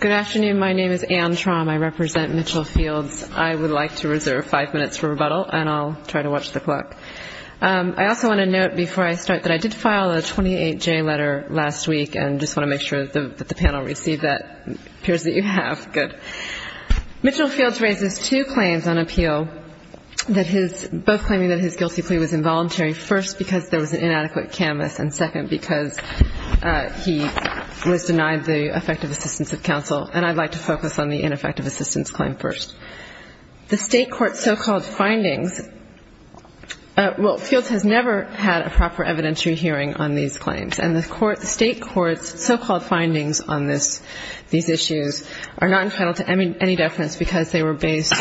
Good afternoon. My name is Anne Traum. I represent Mitchell Fields. I would like to reserve five minutes for rebuttal, and I'll try to watch the clock. I also want to note before I start that I did file a 28-J letter last week, and I just want to make sure that the panel received that. It appears that you have. Good. Mitchell Fields raises two claims on appeal, both claiming that his guilty plea was involuntary, first because there was an inadequate canvas, and second because he was denied the effective assistance of counsel. And I'd like to focus on the ineffective assistance claim first. The state court's so-called findings – well, Fields has never had a proper evidentiary hearing on these claims, and the state court's so-called findings on these issues are not entitled to any deference because they were based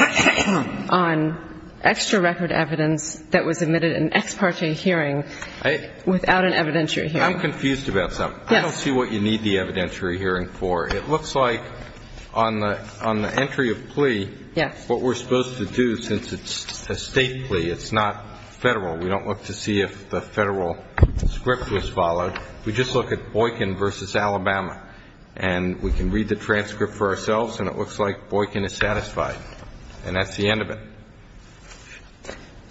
on extra-record evidence that was admitted in an ex parte hearing without an evidentiary hearing. I'm confused about something. Yes. I don't see what you need the evidentiary hearing for. It looks like on the entry of plea, what we're supposed to do, since it's a state plea, it's not federal. We don't look to see if the federal script was followed. We just look at Boykin v. Alabama. And we can read the transcript for ourselves, and it looks like Boykin is satisfied. And that's the end of it.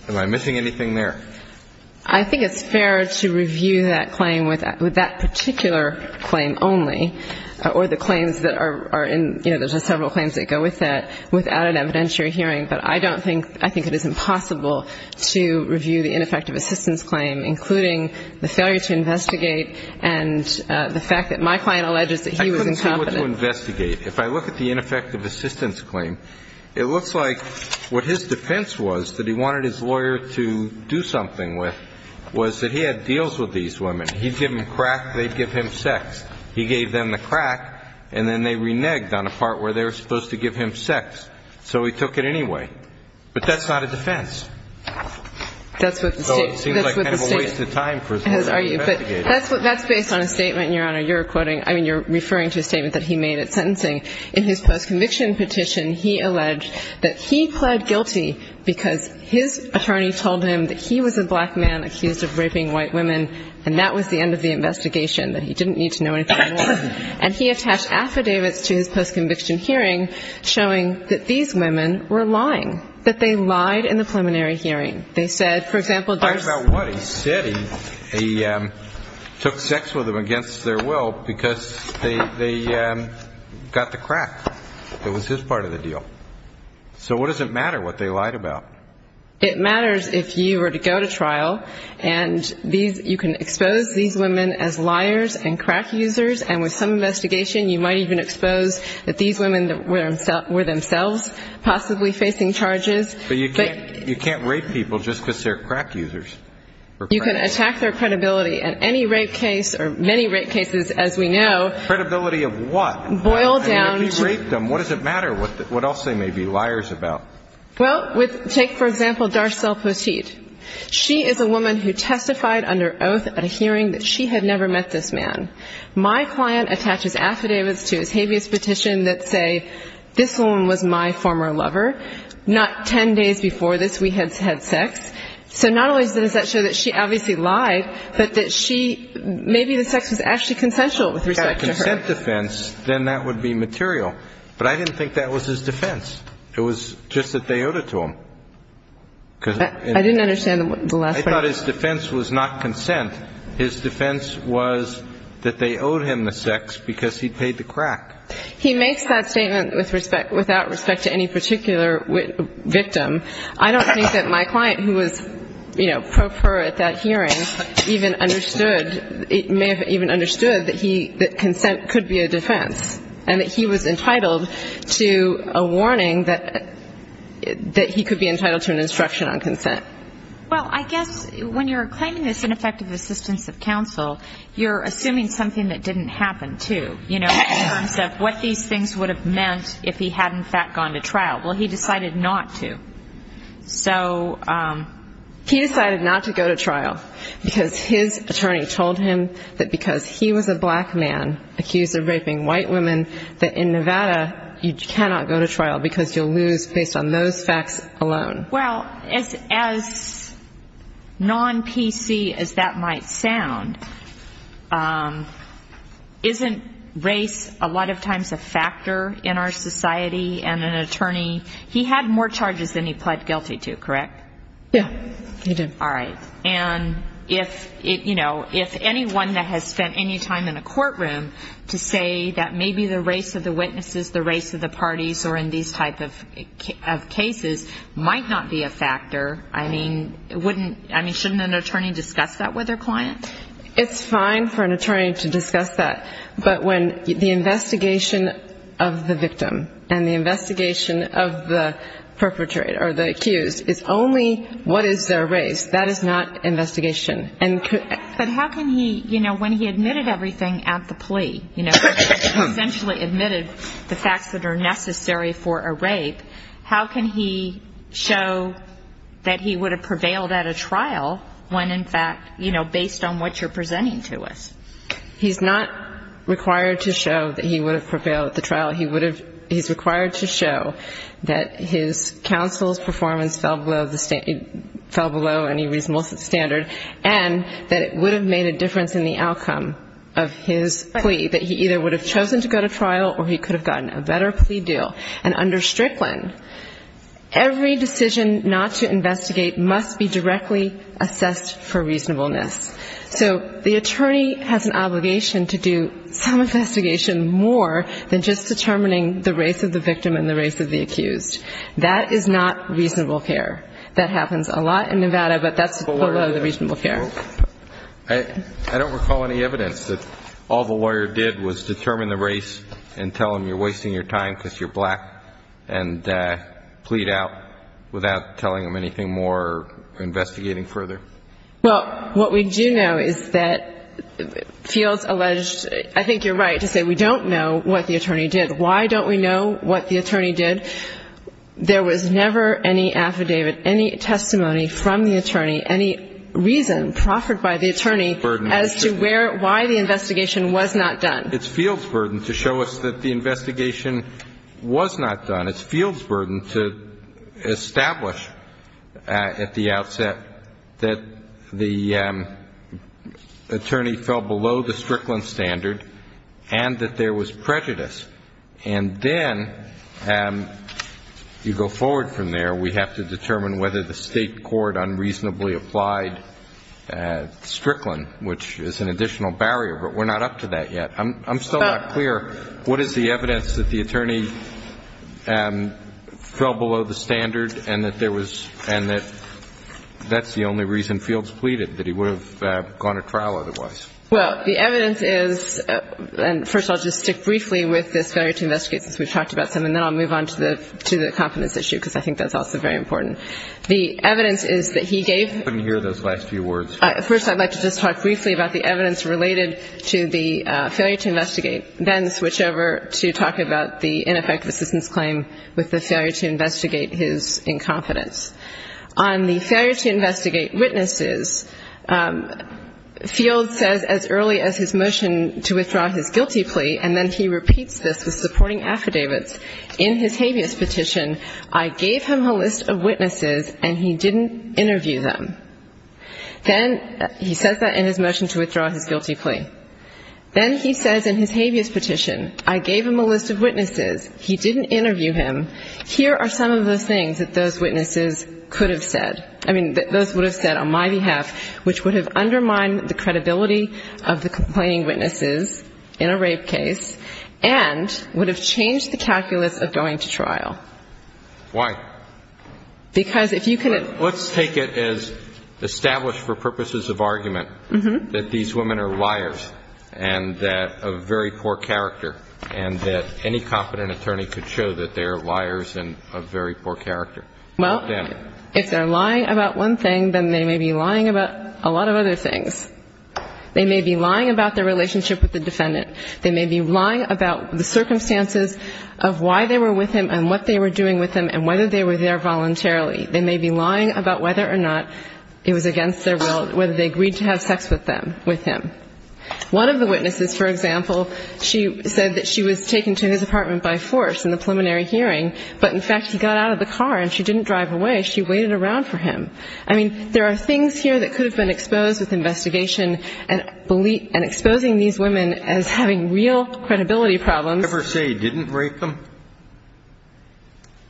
Am I missing anything there? I think it's fair to review that claim with that particular claim only, or the claims that are in – you know, there's just several claims that go with that without an evidentiary hearing. But I don't think – I think it is impossible to review the ineffective assistance claim, including the failure to investigate and the fact that my client alleges that he was incompetent. I couldn't see what to investigate. If I look at the ineffective assistance claim, it looks like what his defense was, that he wanted his lawyer to do something with, was that he had deals with these women. He'd give them crack, they'd give him sex. He gave them the crack, and then they reneged on a part where they were supposed to give him sex. So he took it anyway. But that's not a defense. That's what the state – that's what the state – That's based on a statement, Your Honor, you're quoting – I mean, you're referring to a statement that he made at sentencing. In his post-conviction petition, he alleged that he pled guilty because his attorney told him that he was a black man accused of raping white women, and that was the end of the investigation, that he didn't need to know anything more. And he attached affidavits to his post-conviction hearing showing that these women were lying, that they lied in the preliminary hearing. They said, for example – He lied about what? He said he took sex with them against their will because they got the crack. It was his part of the deal. So what does it matter what they lied about? It matters if you were to go to trial and you can expose these women as liars and crack users, and with some investigation you might even expose that these women were themselves possibly facing charges. But you can't rape people just because they're crack users. You can attack their credibility. And any rape case, or many rape cases, as we know – Credibility of what? Boil down to – I mean, if he raped them, what does it matter what else they may be liars about? Well, take, for example, Darcelle Petit. She is a woman who testified under oath at a hearing that she had never met this man. My client attaches affidavits to his habeas petition that say this woman was my former lover, not 10 days before this we had sex. So not only does that show that she obviously lied, but that she – maybe the sex was actually consensual with respect to her. Consent defense, then that would be material. But I didn't think that was his defense. It was just that they owed it to him. I didn't understand the last part. I thought his defense was not consent. His defense was that they owed him the sex because he paid the crack. He makes that statement with respect – without respect to any particular victim. I don't think that my client, who was, you know, pro per at that hearing, even understood – may have even understood that he – that consent could be a defense and that he was entitled to a warning that he could be entitled to an instruction on consent. Well, I guess when you're claiming this ineffective assistance of counsel, you're assuming something that didn't happen, too. You know, in terms of what these things would have meant if he had, in fact, gone to trial. Well, he decided not to. So... He decided not to go to trial because his attorney told him that because he was a black man accused of raping white women, that in Nevada you cannot go to trial because you'll lose based on those facts alone. Well, as non-PC as that might sound, isn't race a lot of times a factor in our society? And an attorney – he had more charges than he pled guilty to, correct? Yeah, he did. All right. And if, you know, if anyone that has spent any time in a courtroom to say that maybe the race of the witnesses, the race of the parties or in these type of cases might not be a factor, I mean, wouldn't – I mean, shouldn't an attorney discuss that with their client? It's fine for an attorney to discuss that. But when the investigation of the victim and the investigation of the perpetrator or the accused is only what is their race, that is not investigation. But how can he, you know, when he admitted everything at the plea, you know, essentially admitted the facts that are necessary for a rape, how can he show that he would have prevailed at a trial when, in fact, you know, based on what you're presenting to us? He's not required to show that he would have prevailed at the trial. He would have – he's required to show that his counsel's performance fell below any reasonable standard and that it would have made a difference in the outcome of his plea, that he either would have chosen to go to trial or he could have gotten a better plea deal. And under Strickland, every decision not to investigate must be directly assessed for reasonableness. So the attorney has an obligation to do some investigation more than just determining the race of the victim and the race of the accused. That is not reasonable care. That happens a lot in Nevada, but that's below the reasonable care. I don't recall any evidence that all the lawyer did was determine the race and tell them you're wasting your time because you're black and plead out without telling them anything more or investigating further. Well, what we do know is that Fields alleged – I think you're right to say we don't know what the attorney did. Why don't we know what the attorney did? There was never any affidavit, any testimony from the attorney, any reason proffered by the attorney as to where – why the investigation was not done. It's Fields' burden to show us that the investigation was not done. It's Fields' burden to establish at the outset that the attorney fell below the Strickland standard and that there was prejudice. And then you go forward from there. We have to determine whether the State court unreasonably applied Strickland, which is an additional barrier, but we're not up to that yet. I'm still not clear. What is the evidence that the attorney fell below the standard and that there was – and that that's the only reason Fields pleaded, that he would have gone to trial otherwise? Well, the evidence is – and first I'll just stick briefly with this failure to investigate since we've talked about some, and then I'll move on to the confidence issue because I think that's also very important. The evidence is that he gave – I couldn't hear those last few words. First, I'd like to just talk briefly about the evidence related to the failure to investigate, then switch over to talk about the ineffective assistance claim with the failure to investigate his incompetence. On the failure to investigate witnesses, Fields says as early as his motion to withdraw his guilty plea, and then he repeats this with supporting affidavits. In his habeas petition, I gave him a list of witnesses and he didn't interview them. Then – he says that in his motion to withdraw his guilty plea. Then he says in his habeas petition, I gave him a list of witnesses. He didn't interview him. Here are some of the things that those witnesses could have said. I mean, that those would have said on my behalf, which would have undermined the credibility of the complaining witnesses in a rape case and would have changed the calculus of going to trial. Why? Because if you can – Let's take it as established for purposes of argument that these women are liars and that – of very poor character, and that any competent attorney could show that they're liars and of very poor character. Well, if they're lying about one thing, then they may be lying about a lot of other things. They may be lying about their relationship with the defendant. They may be lying about the circumstances of why they were with him and what they were doing with him and whether they were there voluntarily. They may be lying about whether or not it was against their will, whether they agreed to have sex with them – with him. One of the witnesses, for example, she said that she was taken to his apartment by force in the preliminary hearing, but in fact he got out of the car and she didn't drive away. She waited around for him. I mean, there are things here that could have been exposed with investigation and exposing these women as having real credibility problems. Did he ever say he didn't rape them?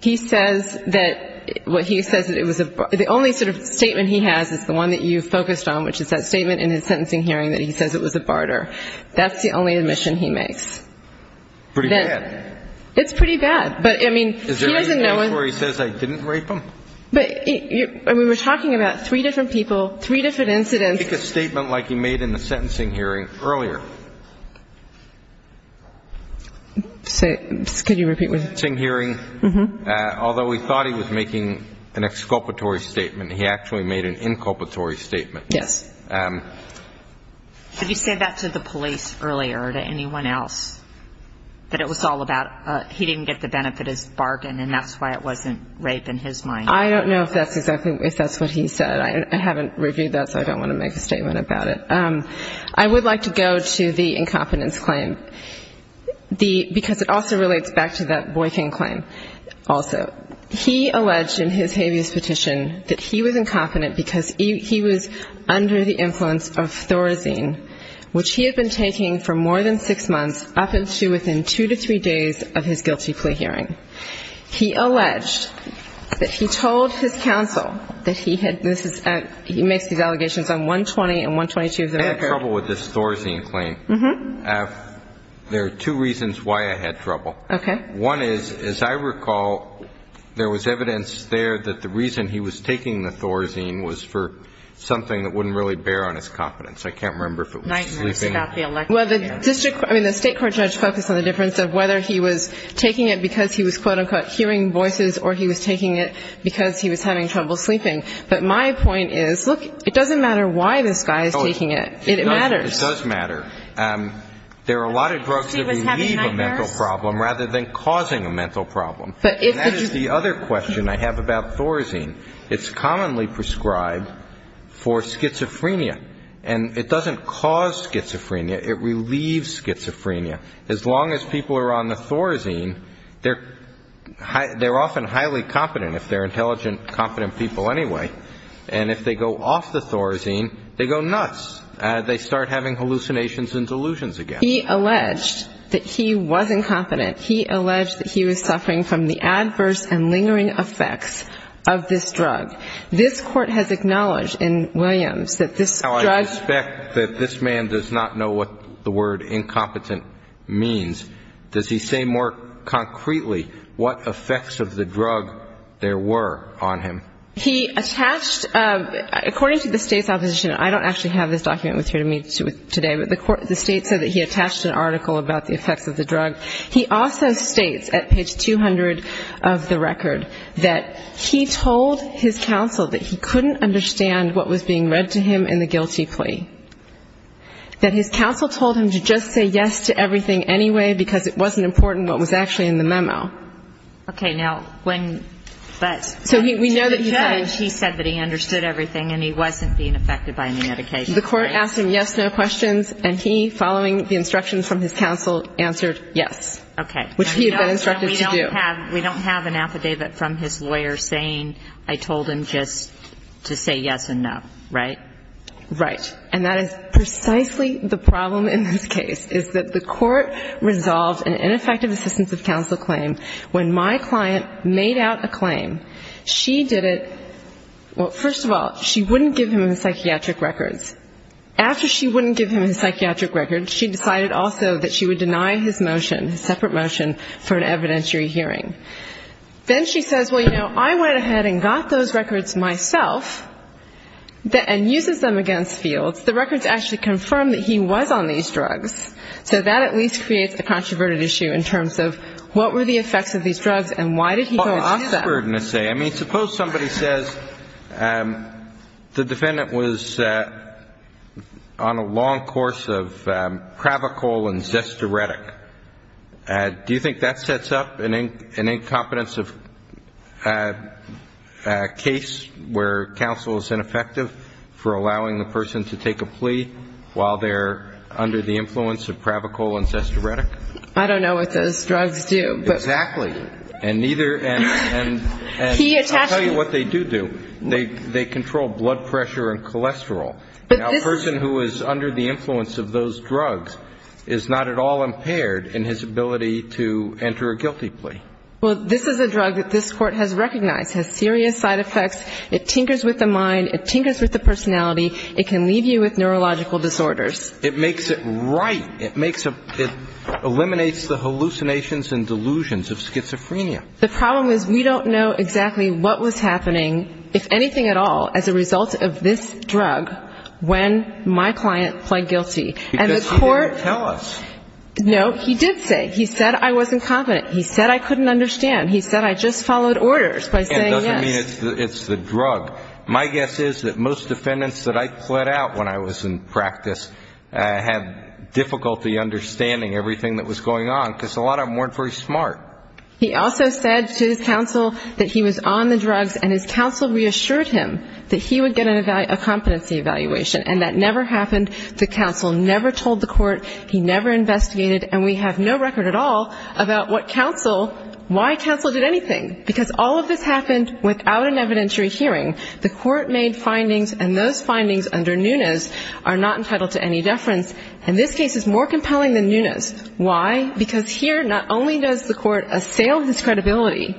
He says that – well, he says that it was a – the only sort of statement he has is the one that you focused on, which is that statement in his sentencing hearing that he says it was a barter. That's the only admission he makes. Pretty bad. It's pretty bad. But, I mean, he doesn't know – Is there any case where he says I didn't rape them? But – I mean, we're talking about three different people, three different incidents. Make a statement like he made in the sentencing hearing earlier. Could you repeat what – In the sentencing hearing, although he thought he was making an exculpatory statement, he actually made an inculpatory statement. Yes. Did he say that to the police earlier or to anyone else, that it was all about – he didn't get the benefit as bargain, and that's why it wasn't rape in his mind? I don't know if that's exactly – if that's what he said. I haven't reviewed that, so I don't want to make a statement about it. I would like to go to the incompetence claim, because it also relates back to that Boykin claim also. He alleged in his habeas petition that he was incompetent because he was under the influence of Thorazine, which he had been taking for more than six months, up until within two to three days of his guilty plea hearing. He alleged that he told his counsel that he had – he makes these allegations on 120 and 122 of the record. I had trouble with this Thorazine claim. There are two reasons why I had trouble. Okay. One is, as I recall, there was evidence there that the reason he was taking the Thorazine was for something that wouldn't really bear on his competence. I can't remember if it was sleeping. Well, the district – I mean, the state court judge focused on the difference of whether he was taking it because he was, quote, unquote, hearing voices, or he was taking it because he was having trouble sleeping. But my point is, look, it doesn't matter why this guy is taking it. It matters. It does matter. There are a lot of drugs that relieve a mental problem rather than causing a mental problem. And that is the other question I have about Thorazine. It's commonly prescribed for schizophrenia, and it doesn't cause schizophrenia. It relieves schizophrenia. As long as people are on the Thorazine, they're often highly competent, if they're intelligent, competent people anyway. And if they go off the Thorazine, they go nuts. They start having hallucinations and delusions again. He alleged that he was incompetent. He alleged that he was suffering from the adverse and lingering effects of this drug. This Court has acknowledged in Williams that this drug – Now, I suspect that this man does not know what the word incompetent means. Does he say more concretely what effects of the drug there were on him? He attached – according to the State's opposition, I don't actually have this document with me today, but the State said that he attached an article about the effects of the drug. He also states at page 200 of the record that he told his counsel that he couldn't understand what was being read to him in the guilty plea, that his counsel told him to just say yes to everything anyway because it wasn't important what was actually in the memo. Okay. Now, when – So we know that he said – He said that he understood everything and he wasn't being affected by any medication. The Court asked him yes, no questions, and he, following the instructions from his counsel, answered yes. Okay. Which he had been instructed to do. We don't have an affidavit from his lawyer saying, I told him just to say yes and no, right? Right. And that is precisely the problem in this case, is that the Court resolved an ineffective assistance of counsel claim when my client made out a claim. She did it – well, first of all, she wouldn't give him his psychiatric records. After she wouldn't give him his psychiatric records, she decided also that she would deny his motion, his separate motion, for an evidentiary hearing. Then she says, well, you know, I went ahead and got those records myself, and uses them against Fields. The records actually confirm that he was on these drugs. So that at least creates a controverted issue in terms of what were the effects of these drugs and why did he go off them? Well, it's his burden to say. I mean, suppose somebody says the defendant was on a long course of Cravacol and Zestiretic. Do you think that sets up an incompetence of case where counsel is ineffective for allowing the person to take a plea while they're under the influence of Cravacol and Zestiretic? I don't know what those drugs do. Exactly. And neither – and I'll tell you what they do do. They control blood pressure and cholesterol. Now, a person who is under the influence of those drugs is not at all impaired in his ability to enter a guilty plea. Well, this is a drug that this Court has recognized has serious side effects. It tinkers with the mind. It tinkers with the personality. It can leave you with neurological disorders. It makes it right. It eliminates the hallucinations and delusions of schizophrenia. The problem is we don't know exactly what was happening, if anything at all, as a result of this drug when my client pled guilty. Because he didn't tell us. No. He did say. He said I wasn't confident. He said I couldn't understand. He said I just followed orders by saying yes. I mean, it's the drug. My guess is that most defendants that I pled out when I was in practice had difficulty understanding everything that was going on, because a lot of them weren't very smart. He also said to his counsel that he was on the drugs, and his counsel reassured him that he would get a competency evaluation. And that never happened. The counsel never told the Court. He never investigated. And we have no record at all about what counsel – why counsel did anything. Because all of this happened without an evidentiary hearing. The Court made findings, and those findings under Nunes are not entitled to any deference. And this case is more compelling than Nunes. Why? Because here not only does the Court assail his credibility,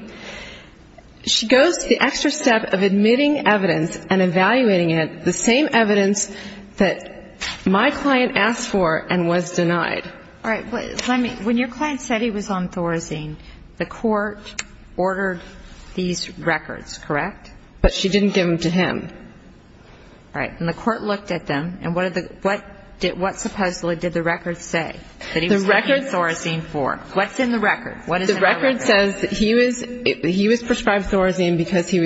she goes the extra step of admitting evidence and evaluating it, the same evidence that my client asked for and was denied. All right. When your client said he was on Thorazine, the Court ordered these records, correct? But she didn't give them to him. All right. And the Court looked at them. And what did the – what supposedly did the record say that he was taking Thorazine for? What's in the record? What is in the record? The record says that he was prescribed Thorazine because he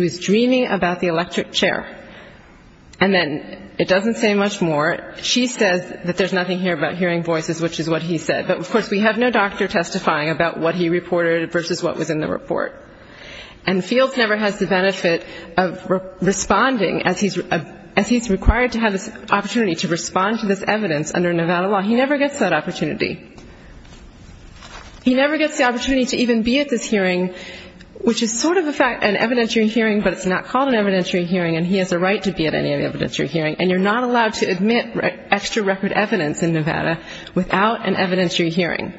was dreaming about the electric chair. And then it doesn't say much more. She says that there's nothing here about hearing voices, which is what he said. But, of course, we have no doctor testifying about what he reported versus what was in the report. And Fields never has the benefit of responding as he's required to have this opportunity to respond to this evidence under Nevada law. He never gets that opportunity. He never gets the opportunity to even be at this hearing, which is sort of an evidentiary hearing, but it's not called an evidentiary hearing, and he has a right to be at any evidentiary hearing. And you're not allowed to admit extra record evidence in Nevada without an evidentiary hearing.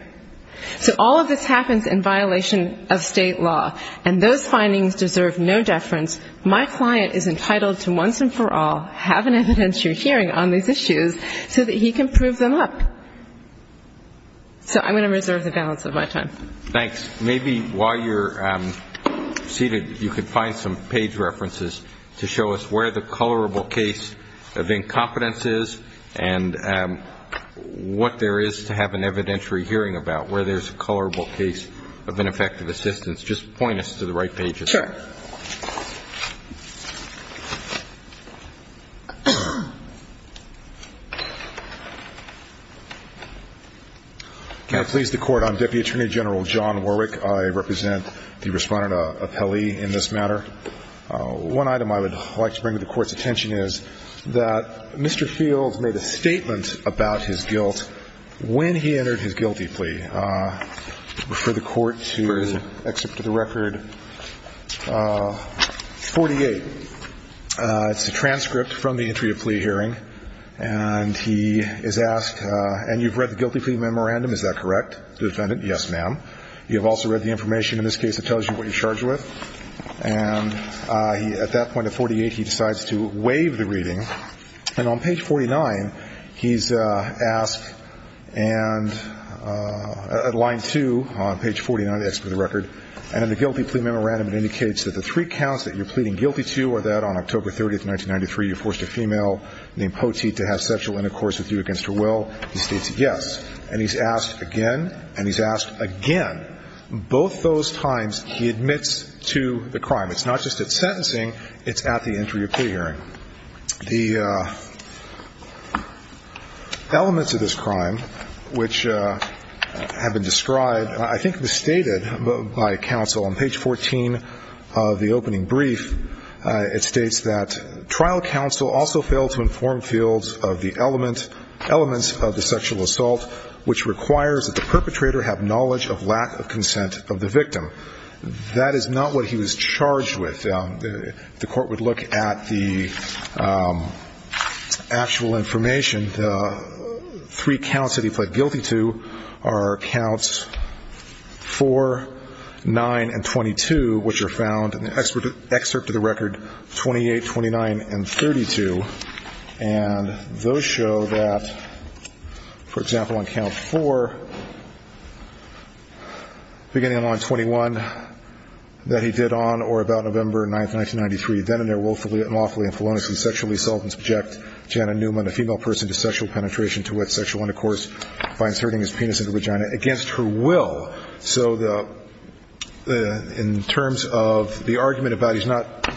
So all of this happens in violation of state law. And those findings deserve no deference. My client is entitled to once and for all have an evidentiary hearing on these issues so that he can prove them up. So I'm going to reserve the balance of my time. Thanks. Maybe while you're seated you could find some page references to show us where the colorable case of incompetence is and what there is to have an evidentiary hearing about, where there's a colorable case of ineffective assistance. Just point us to the right pages. Sure. Can I please the Court? I'm Deputy Attorney General John Warwick. I represent the respondent appellee in this matter. One item I would like to bring to the Court's attention is that Mr. Fields made a statement about his guilt when he entered his guilty plea. I refer the Court to Excerpt of the Record 48. It's a transcript from the entry of plea hearing, and he is asked, and you've read the guilty plea memorandum, is that correct, defendant? Yes, ma'am. You have also read the information. In this case, it tells you what you're charged with. And at that point, at 48, he decides to waive the reading. And on page 49, he's asked, and at line 2 on page 49, Excerpt of the Record, and in the guilty plea memorandum, it indicates that the three counts that you're pleading guilty to are that on October 30, 1993, you forced a female named Poteet to have sexual intercourse with you against her will. He states yes. And he's asked again, and he's asked again. Both those times, he admits to the crime. It's not just at sentencing. It's at the entry of plea hearing. The elements of this crime which have been described, I think it was stated by counsel on page 14 of the opening brief, it states that trial counsel also failed to inform fields of the elements of the sexual assault, which requires that the perpetrator have knowledge of lack of consent of the victim. That is not what he was charged with. The court would look at the actual information. The three counts that he pled guilty to are counts 4, 9, and 22, which are found in the Excerpt of the Record 28, 29, and 32. And those show that, for example, on count 4, beginning on line 21 that he did on, or about November 9, 1993, then in their woefully and lawfully and feloniously sexually assault and subject Janet Newman, a female person to sexual penetration to with sexual intercourse by inserting his penis into her vagina against her will. So in terms of the argument about he's not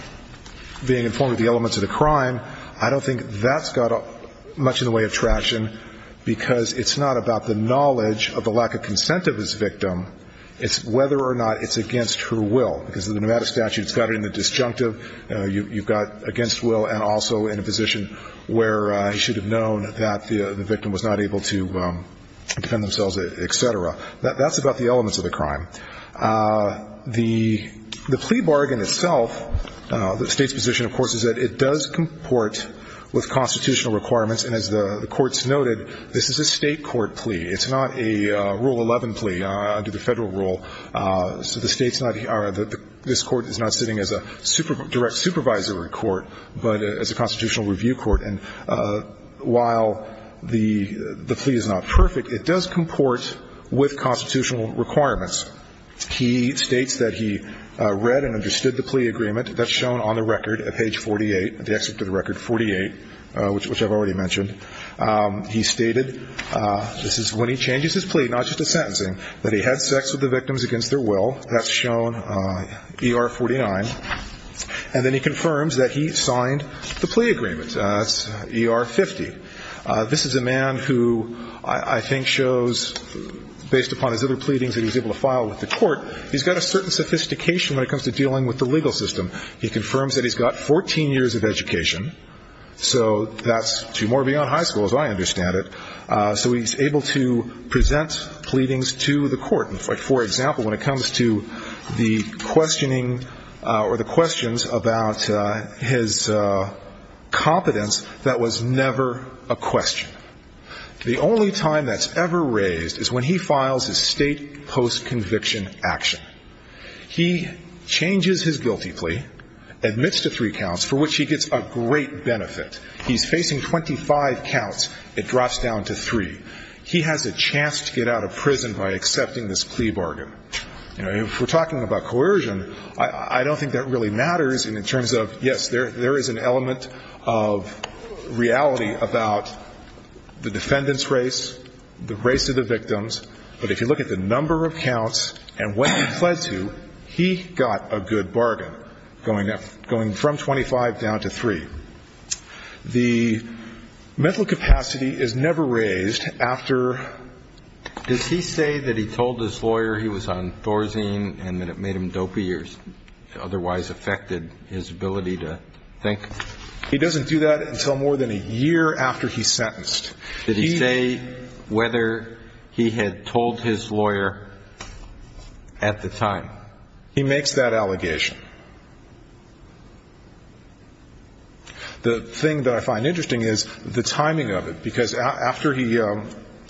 being informed of the elements of the crime, I don't think that's got much in the way of traction because it's not about the knowledge of the lack of consent of his victim. It's whether or not it's against her will, because in the Nevada statute it's got it in the disjunctive. You've got against will and also in a position where he should have known that the victim was not able to defend themselves, et cetera. That's about the elements of the crime. The plea bargain itself, the State's position, of course, is that it does comport with constitutional requirements, and as the courts noted, this is a State court plea. It's not a Rule 11 plea under the Federal rule. So the State's not here. This Court is not sitting as a direct supervisory court, but as a constitutional review court. And while the plea is not perfect, it does comport with constitutional requirements. He states that he read and understood the plea agreement. That's shown on the record at page 48, the excerpt of the record, 48, which I've already mentioned. He stated, this is when he changes his plea, not just the sentencing, that he had sex with the victims against their will. That's shown, ER 49. And then he confirms that he signed the plea agreement. That's ER 50. This is a man who I think shows, based upon his other pleadings that he was able to file with the court, he's got a certain sophistication when it comes to dealing with the legal system. He confirms that he's got 14 years of education. So that's two more beyond high school, as I understand it. So he's able to present pleadings to the court. For example, when it comes to the questioning or the questions about his competence, that was never a question. The only time that's ever raised is when he files his State post-conviction action. He changes his guilty plea, admits to three counts, for which he gets a great benefit. He's facing 25 counts. It drops down to three. He has a chance to get out of prison by accepting this plea bargain. You know, if we're talking about coercion, I don't think that really matters in terms of, yes, there is an element of reality about the defendant's race, the race of the victims. But if you look at the number of counts and what he pled to, he got a good bargain, going from 25 down to three. The mental capacity is never raised after. Does he say that he told his lawyer he was on Thorazine and that it made him dopey or otherwise affected his ability to think? He doesn't do that until more than a year after he's sentenced. Did he say whether he had told his lawyer at the time? He makes that allegation. The thing that I find interesting is the timing of it, because after he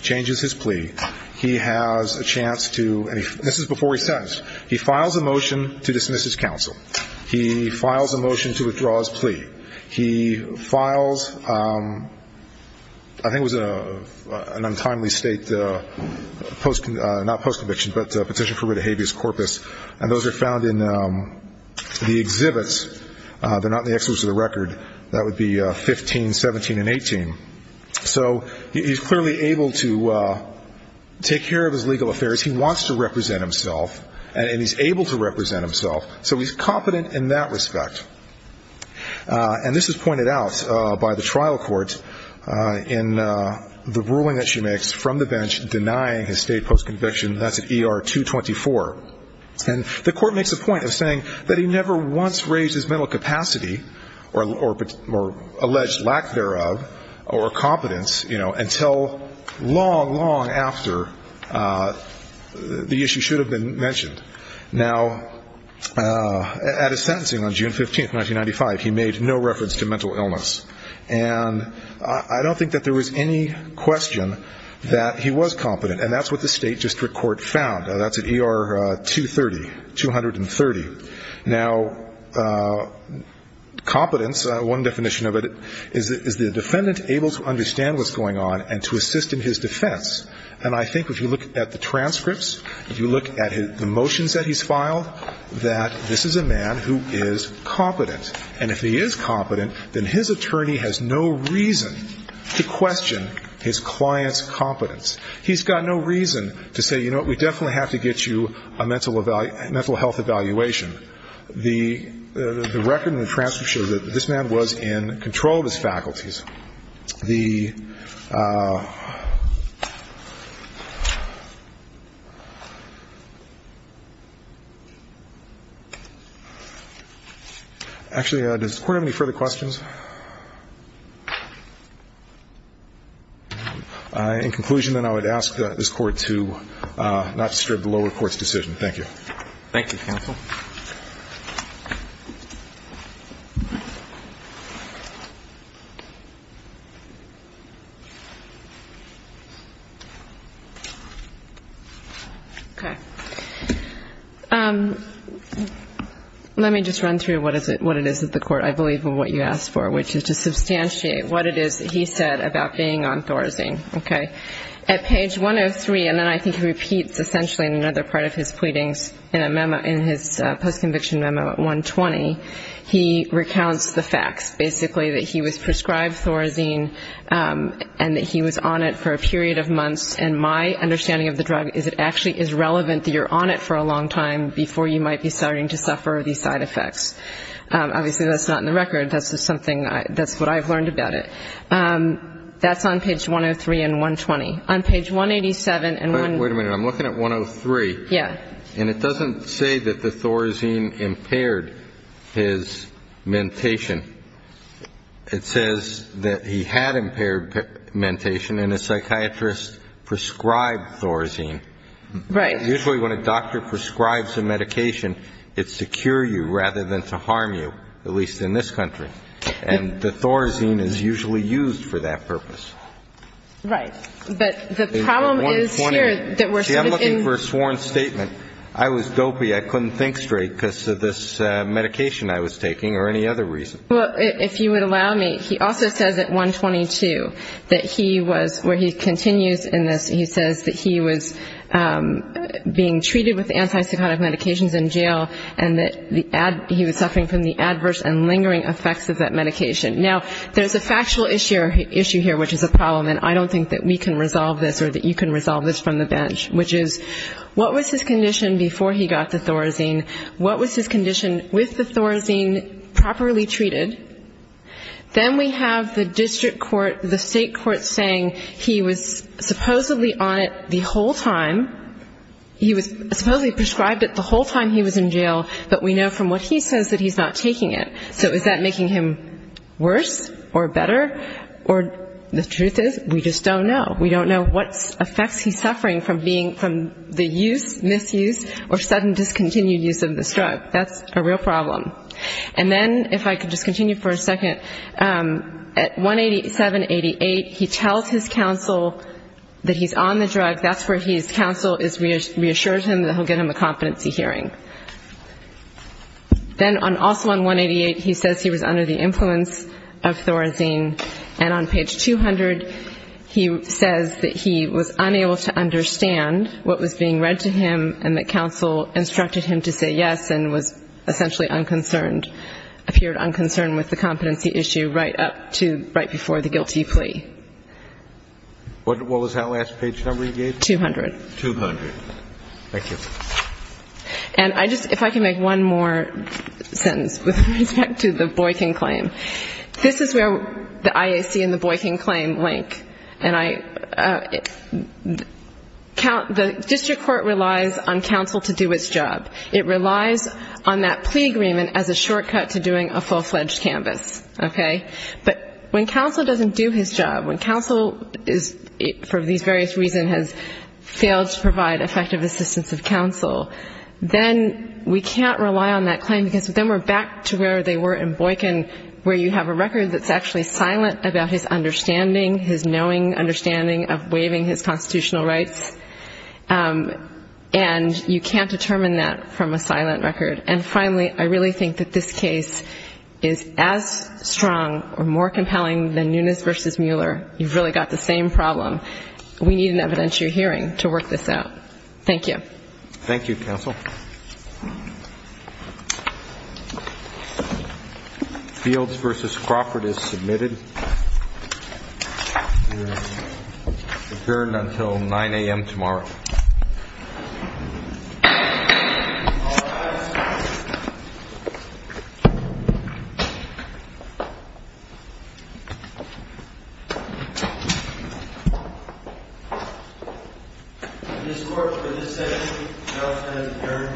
changes his plea, he has a chance to, and this is before he's sentenced, he files a motion to dismiss his counsel. He files a motion to withdraw his plea. He files, I think it was an untimely state, not post-conviction, but a petition for rid of habeas corpus. And those are found in the exhibits. They're not in the exhibits of the record. That would be 15, 17, and 18. So he's clearly able to take care of his legal affairs. He wants to represent himself, and he's able to represent himself. So he's competent in that respect. And this is pointed out by the trial court in the ruling that she makes from the bench denying his state post-conviction. That's at ER 224. And the court makes a point of saying that he never once raised his mental capacity or alleged lack thereof or competence until long, long after the issue should have been mentioned. Now, at his sentencing on June 15, 1995, he made no reference to mental illness. And I don't think that there was any question that he was competent, and that's what the state district court found. That's at ER 230, 230. Now, competence, one definition of it is the defendant able to understand what's going on and to assist in his defense. And I think if you look at the transcripts, if you look at the motions that he's filed, that this is a man who is competent. And if he is competent, then his attorney has no reason to question his client's competence. He's got no reason to say, you know what, we definitely have to get you a mental health evaluation. The record in the transcript shows that this man was in control of his faculties. The ---- actually, does the Court have any further questions? In conclusion, then, I would ask this Court to not disturb the lower court's decision. Thank you. Thank you, counsel. Okay. Let me just run through what it is that the Court, I believe, what you asked for, which is to substantiate what it is that he said about being on Thorazine. Okay. At page 103, and then I think he repeats essentially in another part of his pleadings in a memo, in his postconviction memo at 120, he recounts the facts, basically, that he was prescribed Thorazine and that he was on it for a period of months. And my understanding of the drug is it actually is relevant that you're on it for a long time before you might be starting to suffer these side effects. Obviously, that's not in the record. That's just something that's what I've learned about it. That's on page 103 and 120. On page 187 and one ---- Wait a minute. I'm looking at 103. Yeah. And it doesn't say that the Thorazine impaired his mentation. It says that he had impaired mentation and a psychiatrist prescribed Thorazine. Right. Usually when a doctor prescribes a medication, it's to cure you rather than to harm you, at least in this country. And the Thorazine is usually used for that purpose. Right. But the problem is here that we're sort of in ---- See, I'm looking for a sworn statement. I was dopey. I couldn't think straight because of this medication I was taking or any other reason. Well, if you would allow me, he also says at 122 that he was ---- where he continues in this, he was suffering from the adverse and lingering effects of that medication. Now, there's a factual issue here, which is a problem, and I don't think that we can resolve this or that you can resolve this from the bench, which is what was his condition before he got the Thorazine? What was his condition with the Thorazine properly treated? Then we have the district court, the state court, saying he was supposedly on it the whole time. He was supposedly prescribed it the whole time he was in jail, but we know from what he says that he's not taking it. So is that making him worse or better? Or the truth is we just don't know. We don't know what effects he's suffering from being from the use, misuse, or sudden discontinued use of this drug. That's a real problem. And then, if I could just continue for a second, at 187, 88, he tells his counsel that he's on the drug. That's where his counsel reassures him that he'll get him a competency hearing. Then also on 188, he says he was under the influence of Thorazine. And on page 200, he says that he was unable to understand what was being read to him and that counsel instructed him to say yes and was essentially unconcerned, appeared unconcerned with the competency issue right up to right before the guilty plea. What was that last page number you gave? 200. 200. Thank you. And I just, if I can make one more sentence with respect to the Boykin claim. This is where the IAC and the Boykin claim link. And I, the district court relies on counsel to do its job. It relies on that plea agreement as a shortcut to doing a full-fledged canvass, okay? But when counsel doesn't do his job, when counsel is, for these various reasons, has failed to provide effective assistance of counsel, then we can't rely on that claim, because then we're back to where they were in Boykin, where you have a record that's actually silent about his understanding, his knowing understanding of waiving his constitutional rights, and you can't determine that from a silent record. And finally, I really think that this case is as strong or more compelling than Nunes v. Mueller. You've really got the same problem. We need an evidentiary hearing to work this out. Thank you. Thank you, counsel. Fields v. Crawford is submitted. He is adjourned until 9 a.m. tomorrow. All rise. This court for this session has adjourned. Thank you.